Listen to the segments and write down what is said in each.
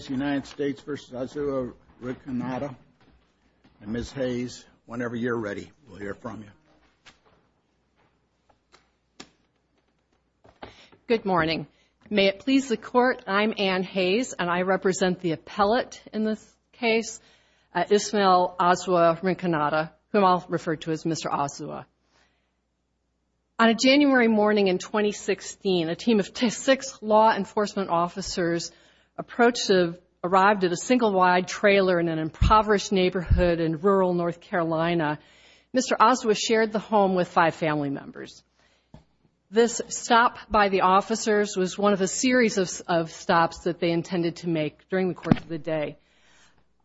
Azua-Rinconada, and Ms. Hayes, whenever you're ready, we'll hear from you. Good morning. May it please the Court, I'm Anne Hayes, and I represent the appellate in this case, Ismael Azua-Rinconada, whom I'll refer to as Mr. Azua. On a January morning in 2016, a team of six law enforcement officers arrived at a single-wide trailer in an impoverished neighborhood in rural North Carolina. Mr. Azua shared the home with five family members. This stop by the officers was one of a series of stops that they intended to make during the course of the day.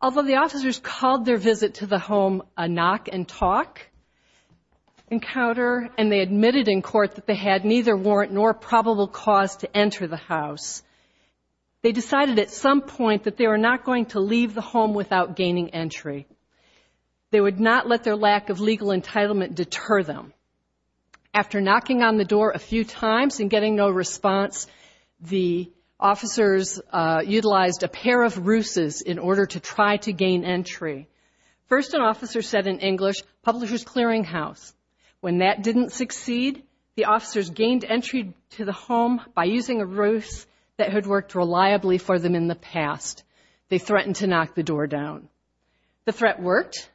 Although the officers called their visit to the home a knock-and-talk encounter, and they admitted in court that they had neither warrant nor probable cause to enter the house, they decided at some point that they were not going to leave the home without gaining entry. They would not let their lack of legal entitlement deter them. After knocking on the door a few times and getting no response, the officers utilized a pair of ruses in order to try to gain entry. First, an officer said in English, publisher's clearinghouse. When that didn't succeed, the officers gained entry to the home by using a ruse that had worked reliably for them in the past. They threatened to knock the door down. The threat worked.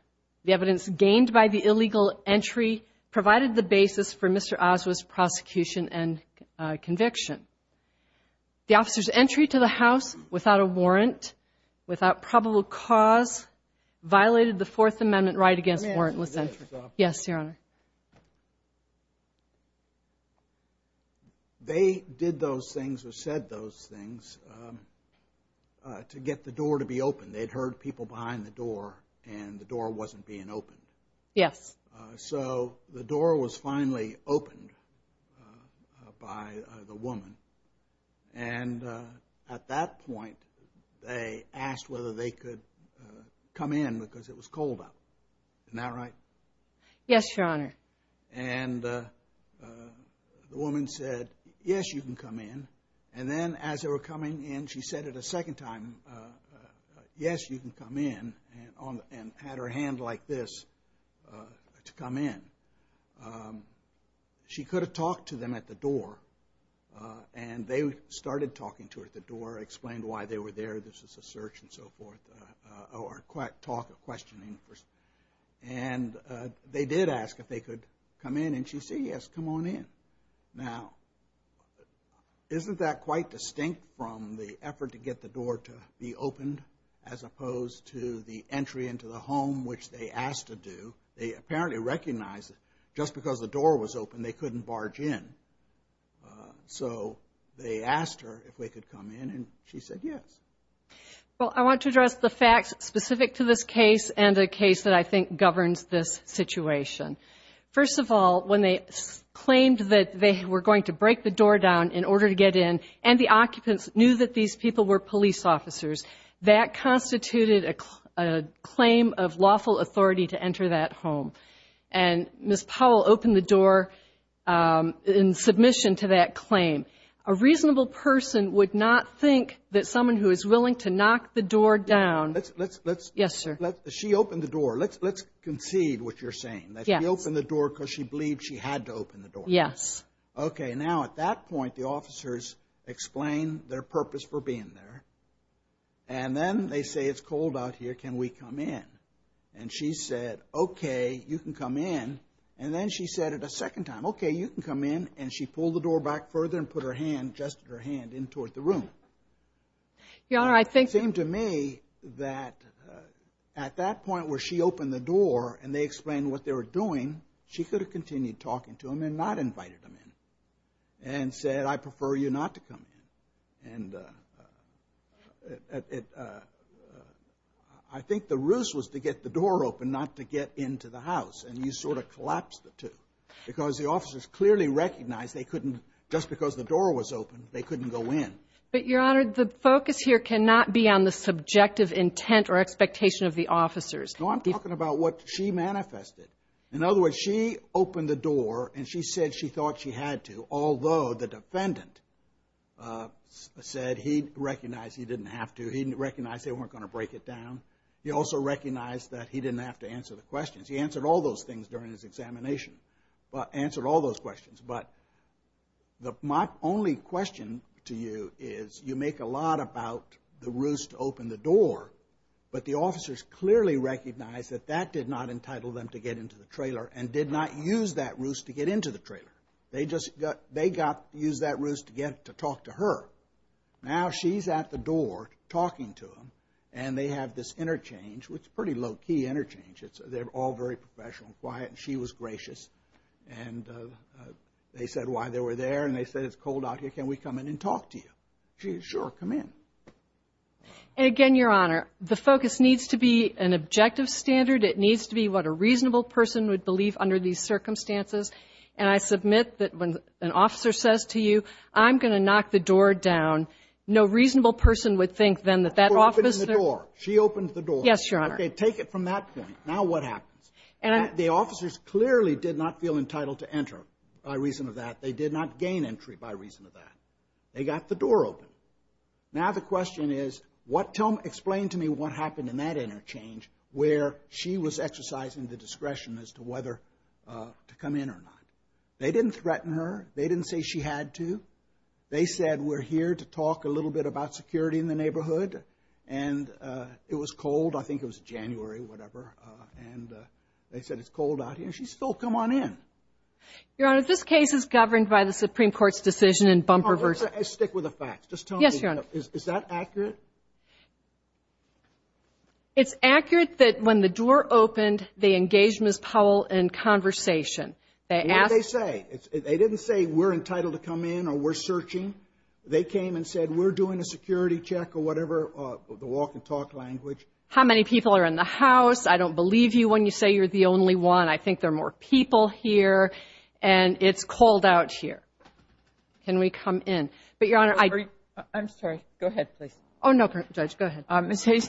The evidence gained by the illegal entry provided the basis for Mr. Azua's prosecution and conviction. The officers' entry to the house without a warrant, without probable cause, violated the Fourth Amendment right against warrantless entry. Yes, Your Honor. They did those things or said those things to get the door to be opened. They'd heard people behind the door, and the door wasn't being opened. Yes. So the door was finally opened by the woman, and at that point, they asked whether they could come in because it was cold out. Isn't that right? Yes, Your Honor. And the woman said, yes, you can come in. And then as they were coming in, she said it a second time, yes, you can come in, and had her hand like this to come in. She could have talked to them at the door, and they started talking to her at the door, explained why they were there, this was a search and so forth, or talk or questioning. And they did ask if they could come in, and she said yes, come on in. Now, isn't that quite distinct from the effort to get the door to be opened as opposed to the entry into the home, which they asked to do? They apparently recognized that just because the door was open, they couldn't barge in. So they asked her if they could come in, and she said yes. Well, I want to address the facts specific to this case and a case that I think governs this situation. First of all, when they claimed that they were going to break the door down in order to get in, and the occupants knew that these people were police officers, that constituted a claim of lawful authority to enter that home. And Ms. Powell opened the door in submission to that claim. A reasonable person would not think that someone who is willing to knock the door down. Let's, let's, let's. Yes, sir. She opened the door. Let's concede what you're saying, that she opened the door because she believed she had to open the door. Yes. Okay. Now, at that point, the officers explain their purpose for being there, and then they say it's cold out here, can we come in? And she said, okay, you can come in. And then she said it a second time, okay, you can come in, and she pulled the door back further and put her hand, just her hand, in toward the room. Your Honor, I think. It seemed to me that at that point where she opened the door and they explained what they were doing, she could have continued talking to them and not invited them in and said, I prefer you not to come in. And I think the ruse was to get the door open, not to get into the house. And you sort of collapsed the two because the officers clearly recognized they couldn't, just because the door was open, they couldn't go in. But, Your Honor, the focus here cannot be on the subjective intent or expectation of the officers. No, I'm talking about what she manifested. In other words, she opened the door and she said she thought she had to, although the defendant said he recognized he didn't have to. He recognized they weren't going to break it down. He also recognized that he didn't have to answer the questions. He answered all those things during his examination, answered all those questions. But my only question to you is you make a lot about the ruse to open the door, but the officers clearly recognized that that did not entitle them to get into the trailer and did not use that ruse to get into the trailer. They just got, they got to use that ruse to get to talk to her. Now she's at the door talking to them and they have this interchange, which is a pretty low-key interchange. They're all very professional and quiet and she was gracious. And they said why they were there and they said it's cold out here, can we come in and talk to you? She said, sure, come in. And again, Your Honor, the focus needs to be an objective standard. It needs to be what a reasonable person would believe under these circumstances. And I submit that when an officer says to you, I'm going to knock the door down, no reasonable person would think then that that officer ---- She opened the door. She opened the door. Yes, Your Honor. Okay, take it from that point. Now what happens? The officers clearly did not feel entitled to enter by reason of that. They did not gain entry by reason of that. They got the door open. Now the question is, explain to me what happened in that interchange where she was exercising the discretion as to whether to come in or not. They didn't threaten her. They didn't say she had to. They said we're here to talk a little bit about security in the neighborhood and it was cold, I think it was January, whatever, and they said it's cold out here. She said, oh, come on in. Your Honor, this case is governed by the Supreme Court's decision in bumper versus ---- Stick with the facts. Just tell me. Yes, Your Honor. Is that accurate? It's accurate that when the door opened, they engaged Ms. Powell in conversation. What did they say? They didn't say we're entitled to come in or we're searching. They came and said we're doing a security check or whatever, the walk and talk language. How many people are in the house? I don't believe you when you say you're the only one. I think there are more people here and it's cold out here. Can we come in? But, Your Honor, I ---- I'm sorry. Go ahead, please. Oh, no, Judge, go ahead. Ms. Hayes,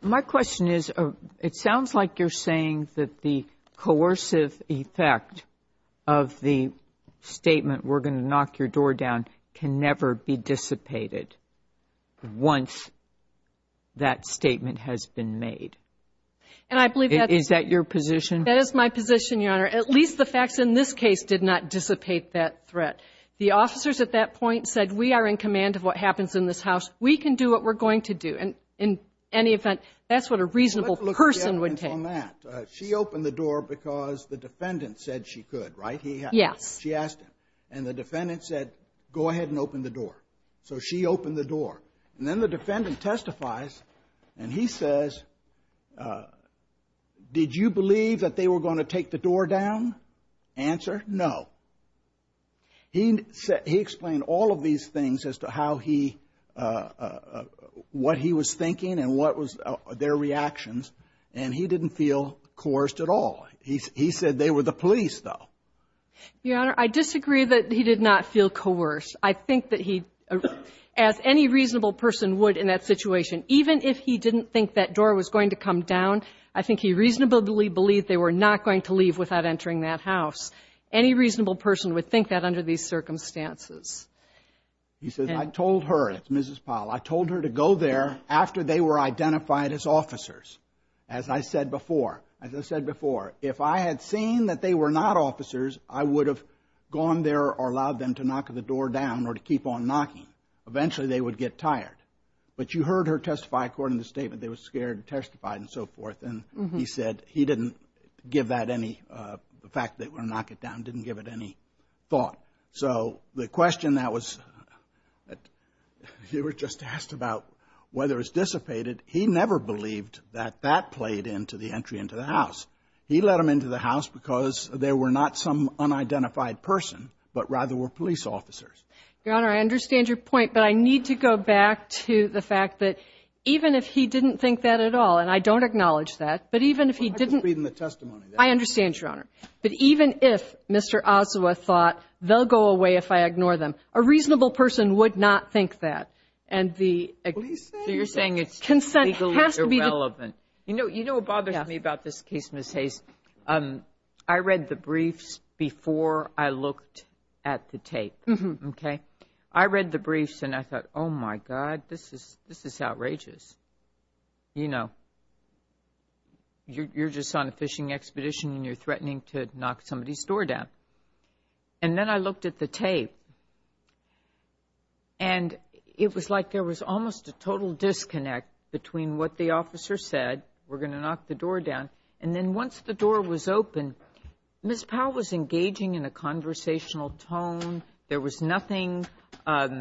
my question is it sounds like you're saying that the coercive effect of the statement we're going to knock your door down can never be dissipated once that statement has been made. And I believe that's ---- Is that your position? That is my position, Your Honor. At least the facts in this case did not dissipate that threat. The officers at that point said we are in command of what happens in this house. We can do what we're going to do. And in any event, that's what a reasonable person would take. Well, let's look at the evidence on that. She opened the door because the defendant said she could, right? Yes. She asked him. And the defendant said go ahead and open the door. So she opened the door. And then the defendant testifies, and he says, did you believe that they were going to take the door down? Answer, no. He explained all of these things as to how he ---- what he was thinking and what was their reactions. And he didn't feel coerced at all. He said they were the police, though. Your Honor, I disagree that he did not feel coerced. I think that he, as any reasonable person would in that situation, even if he didn't think that door was going to come down, I think he reasonably believed they were not going to leave without entering that house. Any reasonable person would think that under these circumstances. He says, I told her, Mrs. Powell, I told her to go there after they were identified as officers. As I said before, as I said before, if I had seen that they were not officers, I would have gone there or allowed them to knock the door down or to keep on knocking. Eventually they would get tired. But you heard her testify according to the statement they were scared to testify and so forth. And he said he didn't give that any ---- the fact that they were going to knock it down didn't give it any thought. So the question that was ---- you were just asked about whether it was dissipated. He never believed that that played into the entry into the house. He let them into the house because they were not some unidentified person, but rather were police officers. Your Honor, I understand your point. But I need to go back to the fact that even if he didn't think that at all, and I don't acknowledge that, but even if he didn't ---- Well, I just read in the testimony that ---- I understand, Your Honor. But even if Mr. Ossawa thought they'll go away if I ignore them, a reasonable person would not think that. And the ---- So you're saying it's ---- Consent has to be the ---- You know what bothers me about this case, Ms. Hayes? I read the briefs before I looked at the tape, okay? I read the briefs and I thought, oh, my God, this is outrageous. You know, you're just on a fishing expedition and you're threatening to knock somebody's store down. And then I looked at the tape and it was like there was almost a total disconnect between what the officer said, we're going to knock the door down, and then once the door was open, Ms. Powell was engaging in a conversational tone. There was nothing, you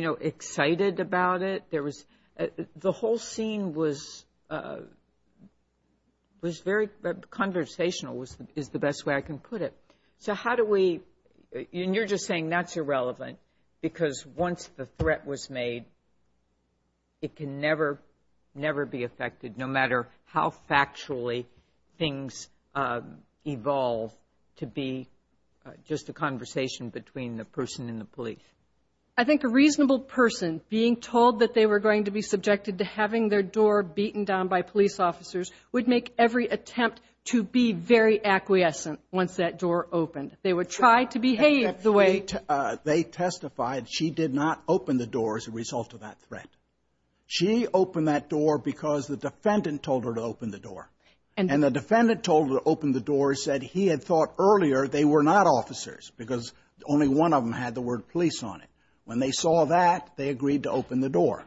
know, excited about it. There was ---- The whole scene was very conversational is the best way I can put it. So how do we ---- And you're just saying that's irrelevant because once the threat was made, it can never, never be affected no matter how factually things evolve to be just a conversation between the person and the police. I think a reasonable person being told that they were going to be subjected to having their door beaten down by police officers would make every attempt to be very acquiescent once that door opened. They would try to behave the way ---- They testified she did not open the door as a result of that threat. She opened that door because the defendant told her to open the door. And the defendant told her to open the door said he had thought earlier they were not officers because only one of them had the word police on it. When they saw that, they agreed to open the door.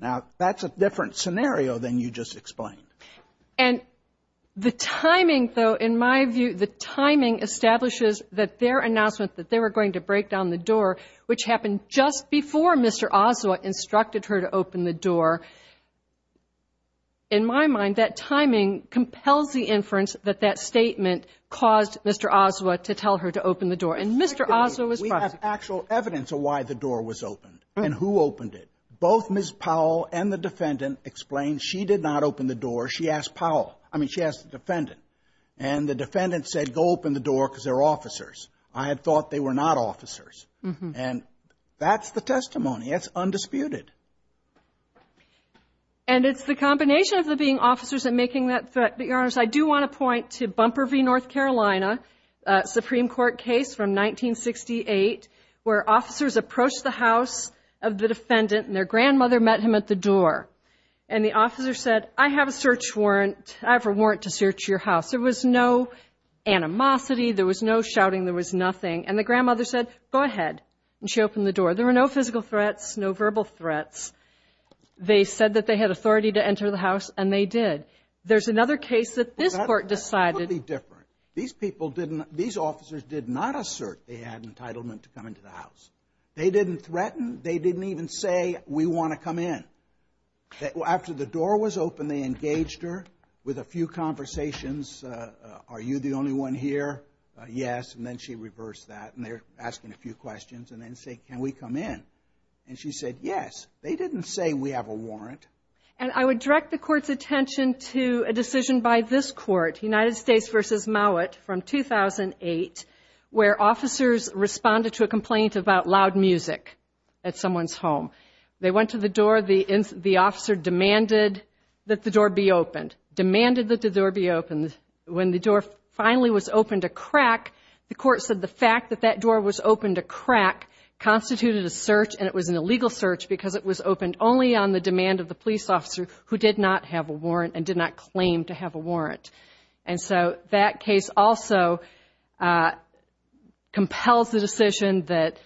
Now, that's a different scenario than you just explained. And the timing, though, in my view, the timing establishes that their announcement that they were going to break down the door, which happened just before Mr. Oswa instructed her to open the door, in my mind, that timing compels the inference that that statement caused Mr. Oswa to tell her to open the door. And Mr. Oswa was ---- We have actual evidence of why the door was opened and who opened it. Both Ms. Powell and the defendant explained she did not open the door. She asked Powell, I mean, she asked the defendant. And the defendant said, go open the door because they're officers. I had thought they were not officers. And that's the testimony. That's undisputed. And it's the combination of them being officers and making that threat. But, Your Honors, I do want to point to Bumper v. North Carolina, a Supreme Court case from 1968 where officers approached the house of the defendant and their grandmother met him at the door. And the officer said, I have a search warrant. I have a warrant to search your house. There was no animosity. There was no shouting. And the grandmother said, go ahead. And she opened the door. There were no physical threats, no verbal threats. They said that they had authority to enter the house, and they did. There's another case that this Court decided ---- That's totally different. These people didn't ---- These officers did not assert they had entitlement to come into the house. They didn't threaten. They didn't even say, we want to come in. After the door was opened, they engaged her with a few conversations. Are you the only one here? Yes. And then she reversed that. And they're asking a few questions and then say, can we come in? And she said, yes. They didn't say we have a warrant. And I would direct the Court's attention to a decision by this Court, United States v. Mowat from 2008, where officers responded to a complaint about loud music at someone's home. They went to the door. The officer demanded that the door be opened, demanded that the door be opened. When the door finally was opened to crack, the Court said the fact that that door was opened to crack constituted a search and it was an illegal search because it was opened only on the demand of the police officer who did not have a warrant and did not claim to have a warrant. And so that case also compels the decision that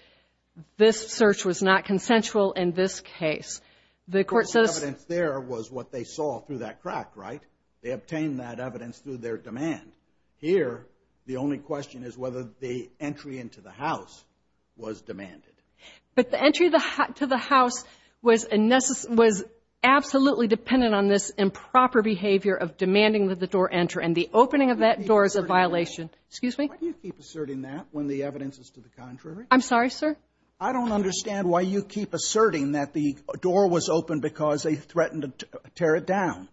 this search was not consensual in this case. The Court says ---- The evidence there was what they saw through that crack, right? They obtained that evidence through their demand. Here, the only question is whether the entry into the house was demanded. But the entry to the house was absolutely dependent on this improper behavior of demanding that the door enter. And the opening of that door is a violation. Excuse me? Why do you keep asserting that when the evidence is to the contrary? I'm sorry, sir? I don't understand why you keep asserting that the door was opened because they threatened to tear it down.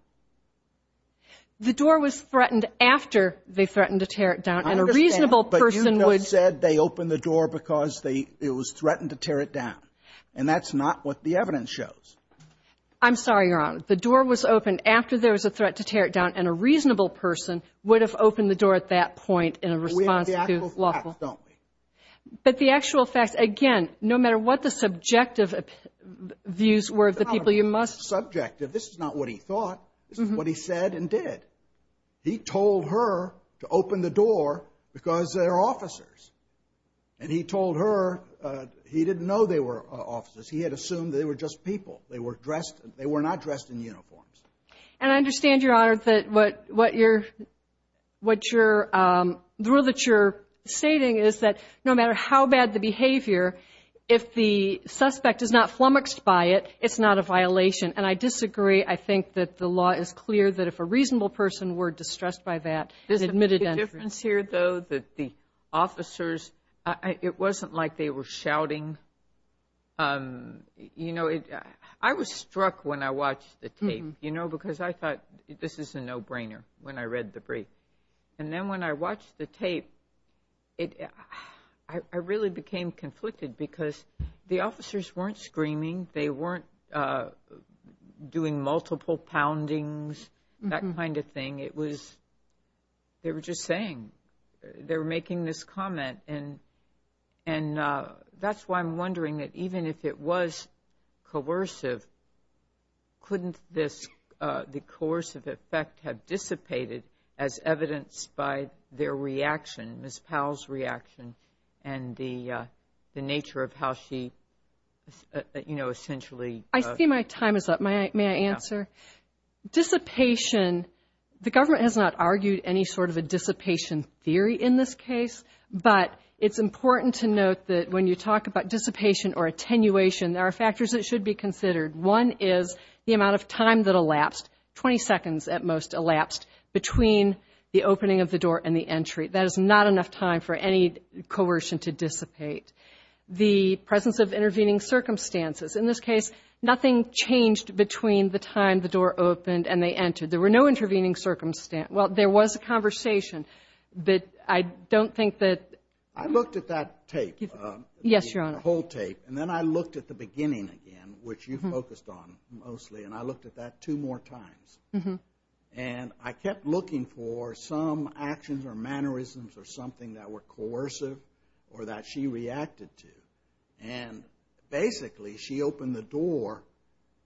The door was threatened after they threatened to tear it down, and a reasonable person would ---- I understand. But you have said they opened the door because they ---- it was threatened to tear it down. And that's not what the evidence shows. I'm sorry, Your Honor. The door was opened after there was a threat to tear it down, and a reasonable person would have opened the door at that point in a response to lawful ---- We have the actual facts, don't we? But the actual facts, again, no matter what the subjective views were of the people you must ---- This is subjective. This is not what he thought. This is what he said and did. He told her to open the door because they're officers. And he told her he didn't know they were officers. He had assumed they were just people. They were dressed. They were not dressed in uniforms. And I understand, Your Honor, that what you're ---- the rule that you're stating is that no matter how bad the behavior, if the suspect is not flummoxed by it, it's not a violation. And I disagree. I think that the law is clear that if a reasonable person were distressed by that ---- There's a big difference here, though, that the officers, it wasn't like they were shouting. You know, I was struck when I watched the tape, you know, because I thought this is a no-brainer when I read the brief. And then when I watched the tape, I really became conflicted because the officers weren't screaming. They weren't doing multiple poundings, that kind of thing. It was ---- they were just saying. They were making this comment. And that's why I'm wondering that even if it was coercive, couldn't this, the coercive effect have dissipated as evidenced by their reaction, Ms. Powell's reaction and the nature of how she, you know, essentially ---- I see my time is up. May I answer? Yes. Dissipation, the government has not argued any sort of a dissipation theory in this case. But it's important to note that when you talk about dissipation or attenuation, there are factors that should be considered. One is the amount of time that elapsed, 20 seconds at most elapsed, between the opening of the door and the entry. That is not enough time for any coercion to dissipate. The presence of intervening circumstances. In this case, nothing changed between the time the door opened and they entered. There were no intervening circumstances. Well, there was a conversation. But I don't think that ---- I looked at that tape. Yes, Your Honor. The whole tape. And then I looked at the beginning again, which you focused on mostly. And I looked at that two more times. And I kept looking for some actions or mannerisms or something that were coercive or that she reacted to. And basically, she opened the door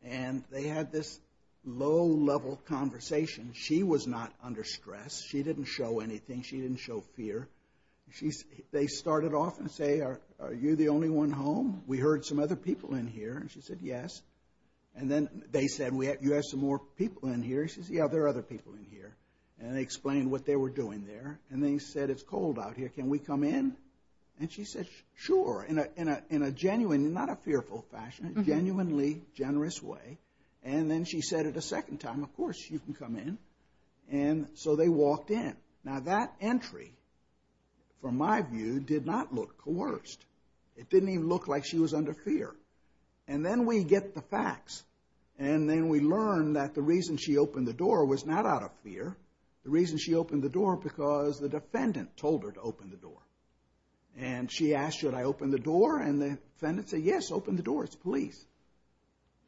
and they had this low-level conversation. She was not under stress. She didn't show anything. She didn't show fear. They started off and say, are you the only one home? We heard some other people in here. And she said, yes. And then they said, you have some more people in here? She said, yes, there are other people in here. And they explained what they were doing there. And they said, it's cold out here. Can we come in? And she said, sure, in a genuine, not a fearful fashion, genuinely generous way. And then she said it a second time, of course you can come in. And so they walked in. Now, that entry, from my view, did not look coerced. It didn't even look like she was under fear. And then we get the facts. And then we learn that the reason she opened the door was not out of fear. The reason she opened the door was because the defendant told her to open the door. And she asked, should I open the door? And the defendant said, yes, open the door. It's police.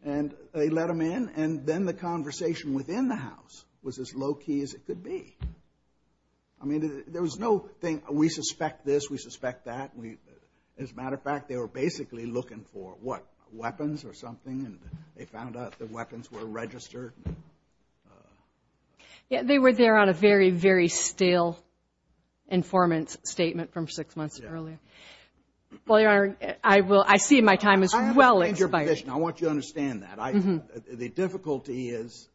And they let them in. And then the conversation within the house was as low-key as it could be. I mean, there was no thing, we suspect this, we suspect that. As a matter of fact, they were basically looking for, what, weapons or something? And they found out that weapons were registered. Yeah, they were there on a very, very stale informant's statement from six months earlier. Well, Your Honor, I see my time as well as your budget. I want you to understand that. The difficulty is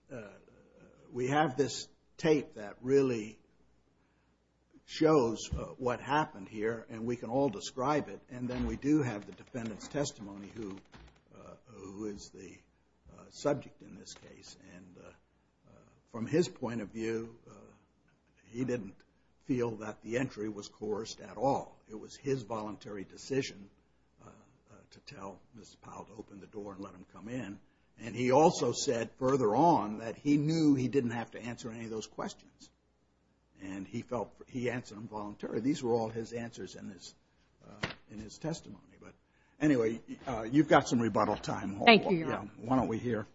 we have this tape that really shows what happened here. And we can all describe it. And then we do have the defendant's testimony who is the subject in this case. And from his point of view, he didn't feel that the entry was coerced at all. It was his voluntary decision to tell Mrs. Powell to open the door and let him come in. And he also said further on that he knew he didn't have to answer any of those questions. And he felt he answered them voluntarily. These were all his answers in his testimony. But anyway, you've got some rebuttal time. Thank you, Your Honor. Why don't we hear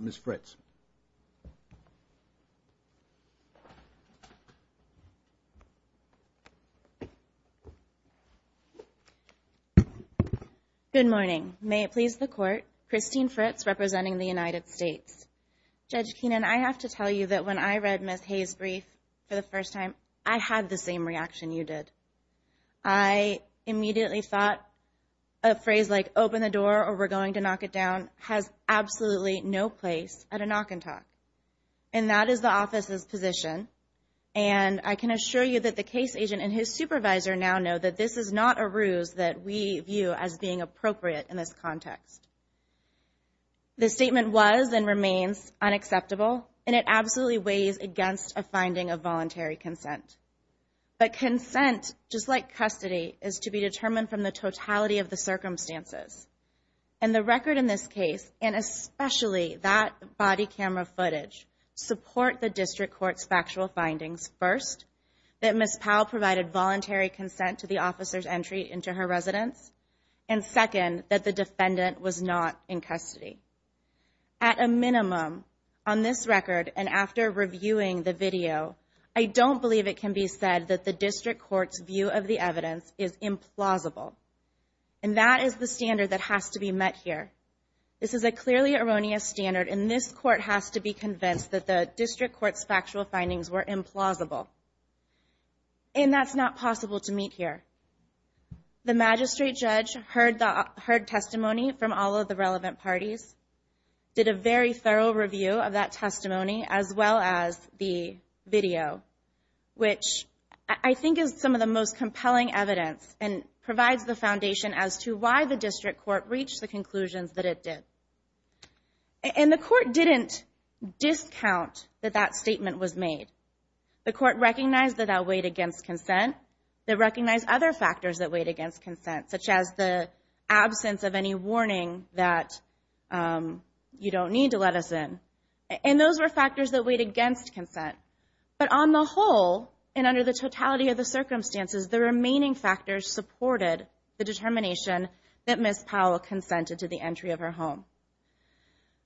Ms. Fritz? Good morning. May it please the Court, Christine Fritz representing the United States. Judge Keenan, I have to tell you that when I read Ms. Hayes' brief for the first time, I had the same reaction you did. I immediately thought a phrase like open the door or we're going to knock it down has absolutely no place at a knock and talk. And that is the office's position. And I can assure you that the case agent and his supervisor now know that this is not a ruse that we view as being appropriate in this context. The statement was and remains unacceptable, and it absolutely weighs against a finding of voluntary consent. But consent, just like custody, is to be determined from the totality of the circumstances. And the record in this case, and especially that body camera footage, support the District Court's factual findings, first, that Ms. Powell provided voluntary consent to the officer's entry into her residence, and second, that the defendant was not in custody. At a minimum, on this record and after reviewing the video, I don't believe it can be said that the District Court's view of the evidence is implausible. And that is the standard that has to be met here. This is a clearly erroneous standard, and this Court has to be convinced that the District Court's factual findings were implausible. And that's not possible to meet here. The magistrate judge heard testimony from all of the relevant parties, did a very thorough review of that testimony, as well as the video, which I think is some of the most compelling evidence and provides the foundation as to why the District Court reached the conclusions that it did. And the Court didn't discount that that statement was made. The Court recognized that that weighed against consent. They recognized other factors that weighed against consent, such as the absence of any warning that you don't need to let us in. And those were factors that weighed against consent. But on the whole, and under the totality of the circumstances, the remaining factors supported the determination that Ms. Powell consented to the entry of her home.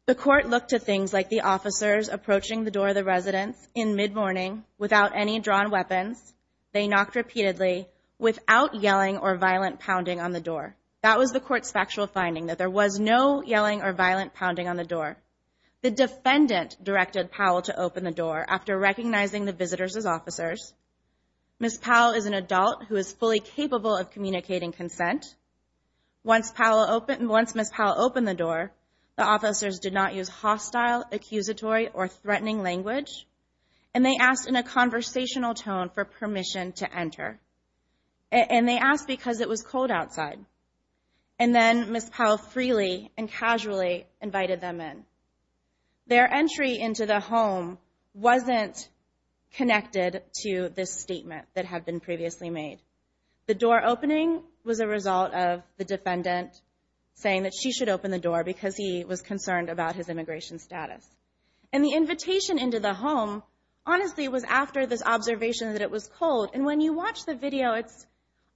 The Court looked to things like the officers approaching the door of the residence in mid-morning, without any drawn weapons. They knocked repeatedly, without yelling or violent pounding on the door. That was the Court's factual finding, that there was no yelling or violent pounding on the door. The defendant directed Powell to open the door after recognizing the visitors as officers. Ms. Powell is an adult who is fully capable of communicating consent. Once Ms. Powell opened the door, the officers did not use hostile, accusatory, or threatening language. And they asked in a conversational tone for permission to enter. And they asked because it was cold outside. And then Ms. Powell freely and casually invited them in. Their entry into the home wasn't connected to this statement that had been previously made. The door opening was a result of the defendant saying that she should open the door because he was concerned about his immigration status. And the invitation into the home, honestly, was after this observation that it was cold. And when you watch the video, it's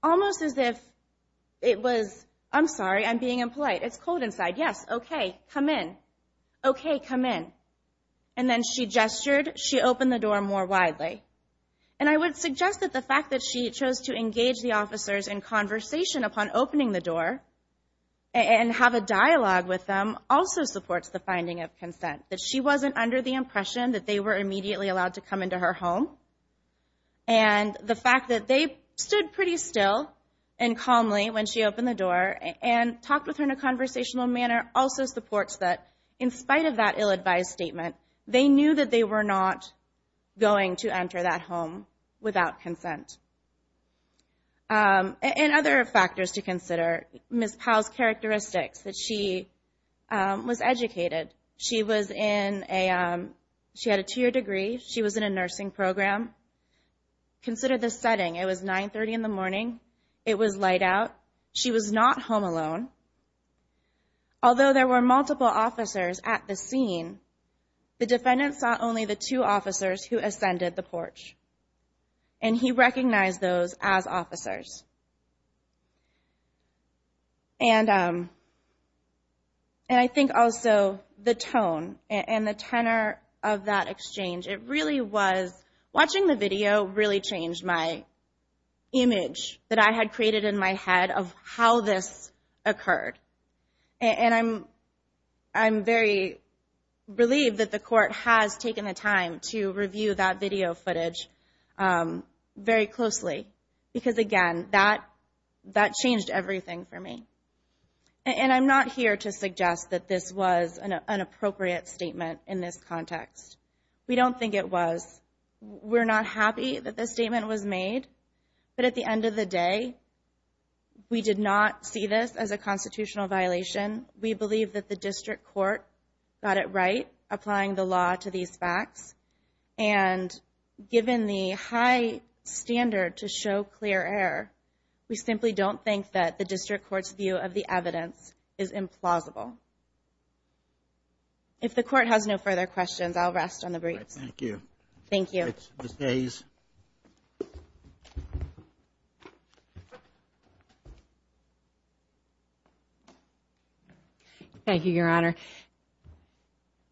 almost as if it was, I'm sorry, I'm being impolite, it's cold inside. Yes, okay, come in. Okay, come in. And then she gestured, she opened the door more widely. And I would suggest that the fact that she chose to engage the officers in conversation upon opening the door and have a dialogue with them also supports the finding of consent. That she wasn't under the impression that they were immediately allowed to come into her home. And the fact that they stood pretty still and calmly when she opened the door and talked with her in a conversational manner also supports that, in spite of that ill-advised statement, they knew that they were not going to enter that home without consent. And other factors to consider, Ms. Powell's characteristics, that she was educated. She was in a, she had a two-year degree. She was in a nursing program. Consider the setting. It was 930 in the morning. It was light out. She was not home alone. Although there were multiple officers at the scene, the defendant saw only the two officers who ascended the porch. And he recognized those as officers. And I think also the tone and the tenor of that exchange, it really was, watching the video really changed my image that I had created in my head of how this occurred. And I'm very relieved that the court has taken the time to review that video footage very closely. Because, again, that changed everything for me. And I'm not here to suggest that this was an appropriate statement in this context. We don't think it was. We're not happy that this statement was made. But at the end of the day, we did not see this as a constitutional violation. We believe that the district court got it right, applying the law to these facts. And given the high standard to show clear error, we simply don't think that the district court's view of the evidence is implausible. If the court has no further questions, I'll rest on the briefs. Thank you. Thank you. Ms. Hayes. Thank you, Your Honor.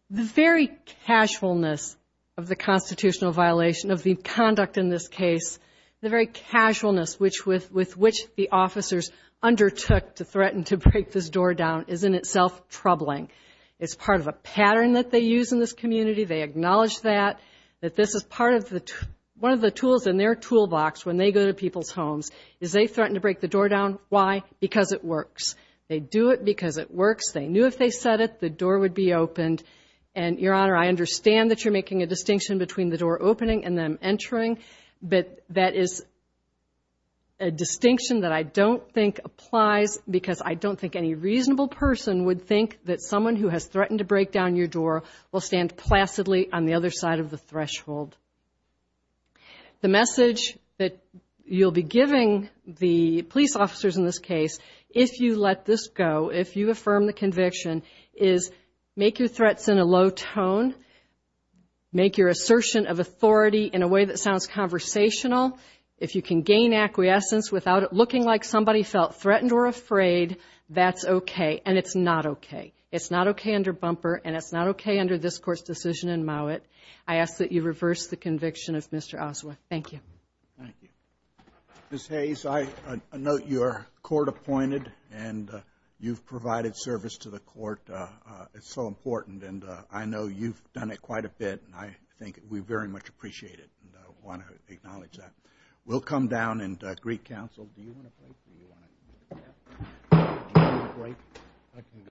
The very casualness of the constitutional violation of the conduct in this case, the very casualness with which the officers undertook to threaten to break this door down, is in itself troubling. It's part of a pattern that they use in this community. They acknowledge that, that this is part of the tools in their toolbox when they go to people's homes, is they threaten to break the door down. Why? Because it works. They do it because it works. They knew if they said it, the door would be opened. And, Your Honor, I understand that you're making a distinction between the door opening and them entering, but that is a distinction that I don't think applies because I don't think any reasonable person would think that someone who has threatened to break down your door will stand placidly on the other side of the threshold. The message that you'll be giving the police officers in this case, if you let this go, if you affirm the conviction, is make your threats in a low tone. Make your assertion of authority in a way that sounds conversational. If you can gain acquiescence without it looking like somebody felt threatened or afraid, that's okay. And it's not okay. It's not okay under bumper, and it's not okay under this Court's decision in Mowat. I ask that you reverse the conviction of Mr. Oswald. Thank you. Thank you. Ms. Hayes, I note you are court-appointed, and you've provided service to the court. It's so important, and I know you've done it quite a bit, and I think we very much appreciate it and want to acknowledge that. We'll come down and greet counsel. Do you want a break, or do you want to take a break? Break.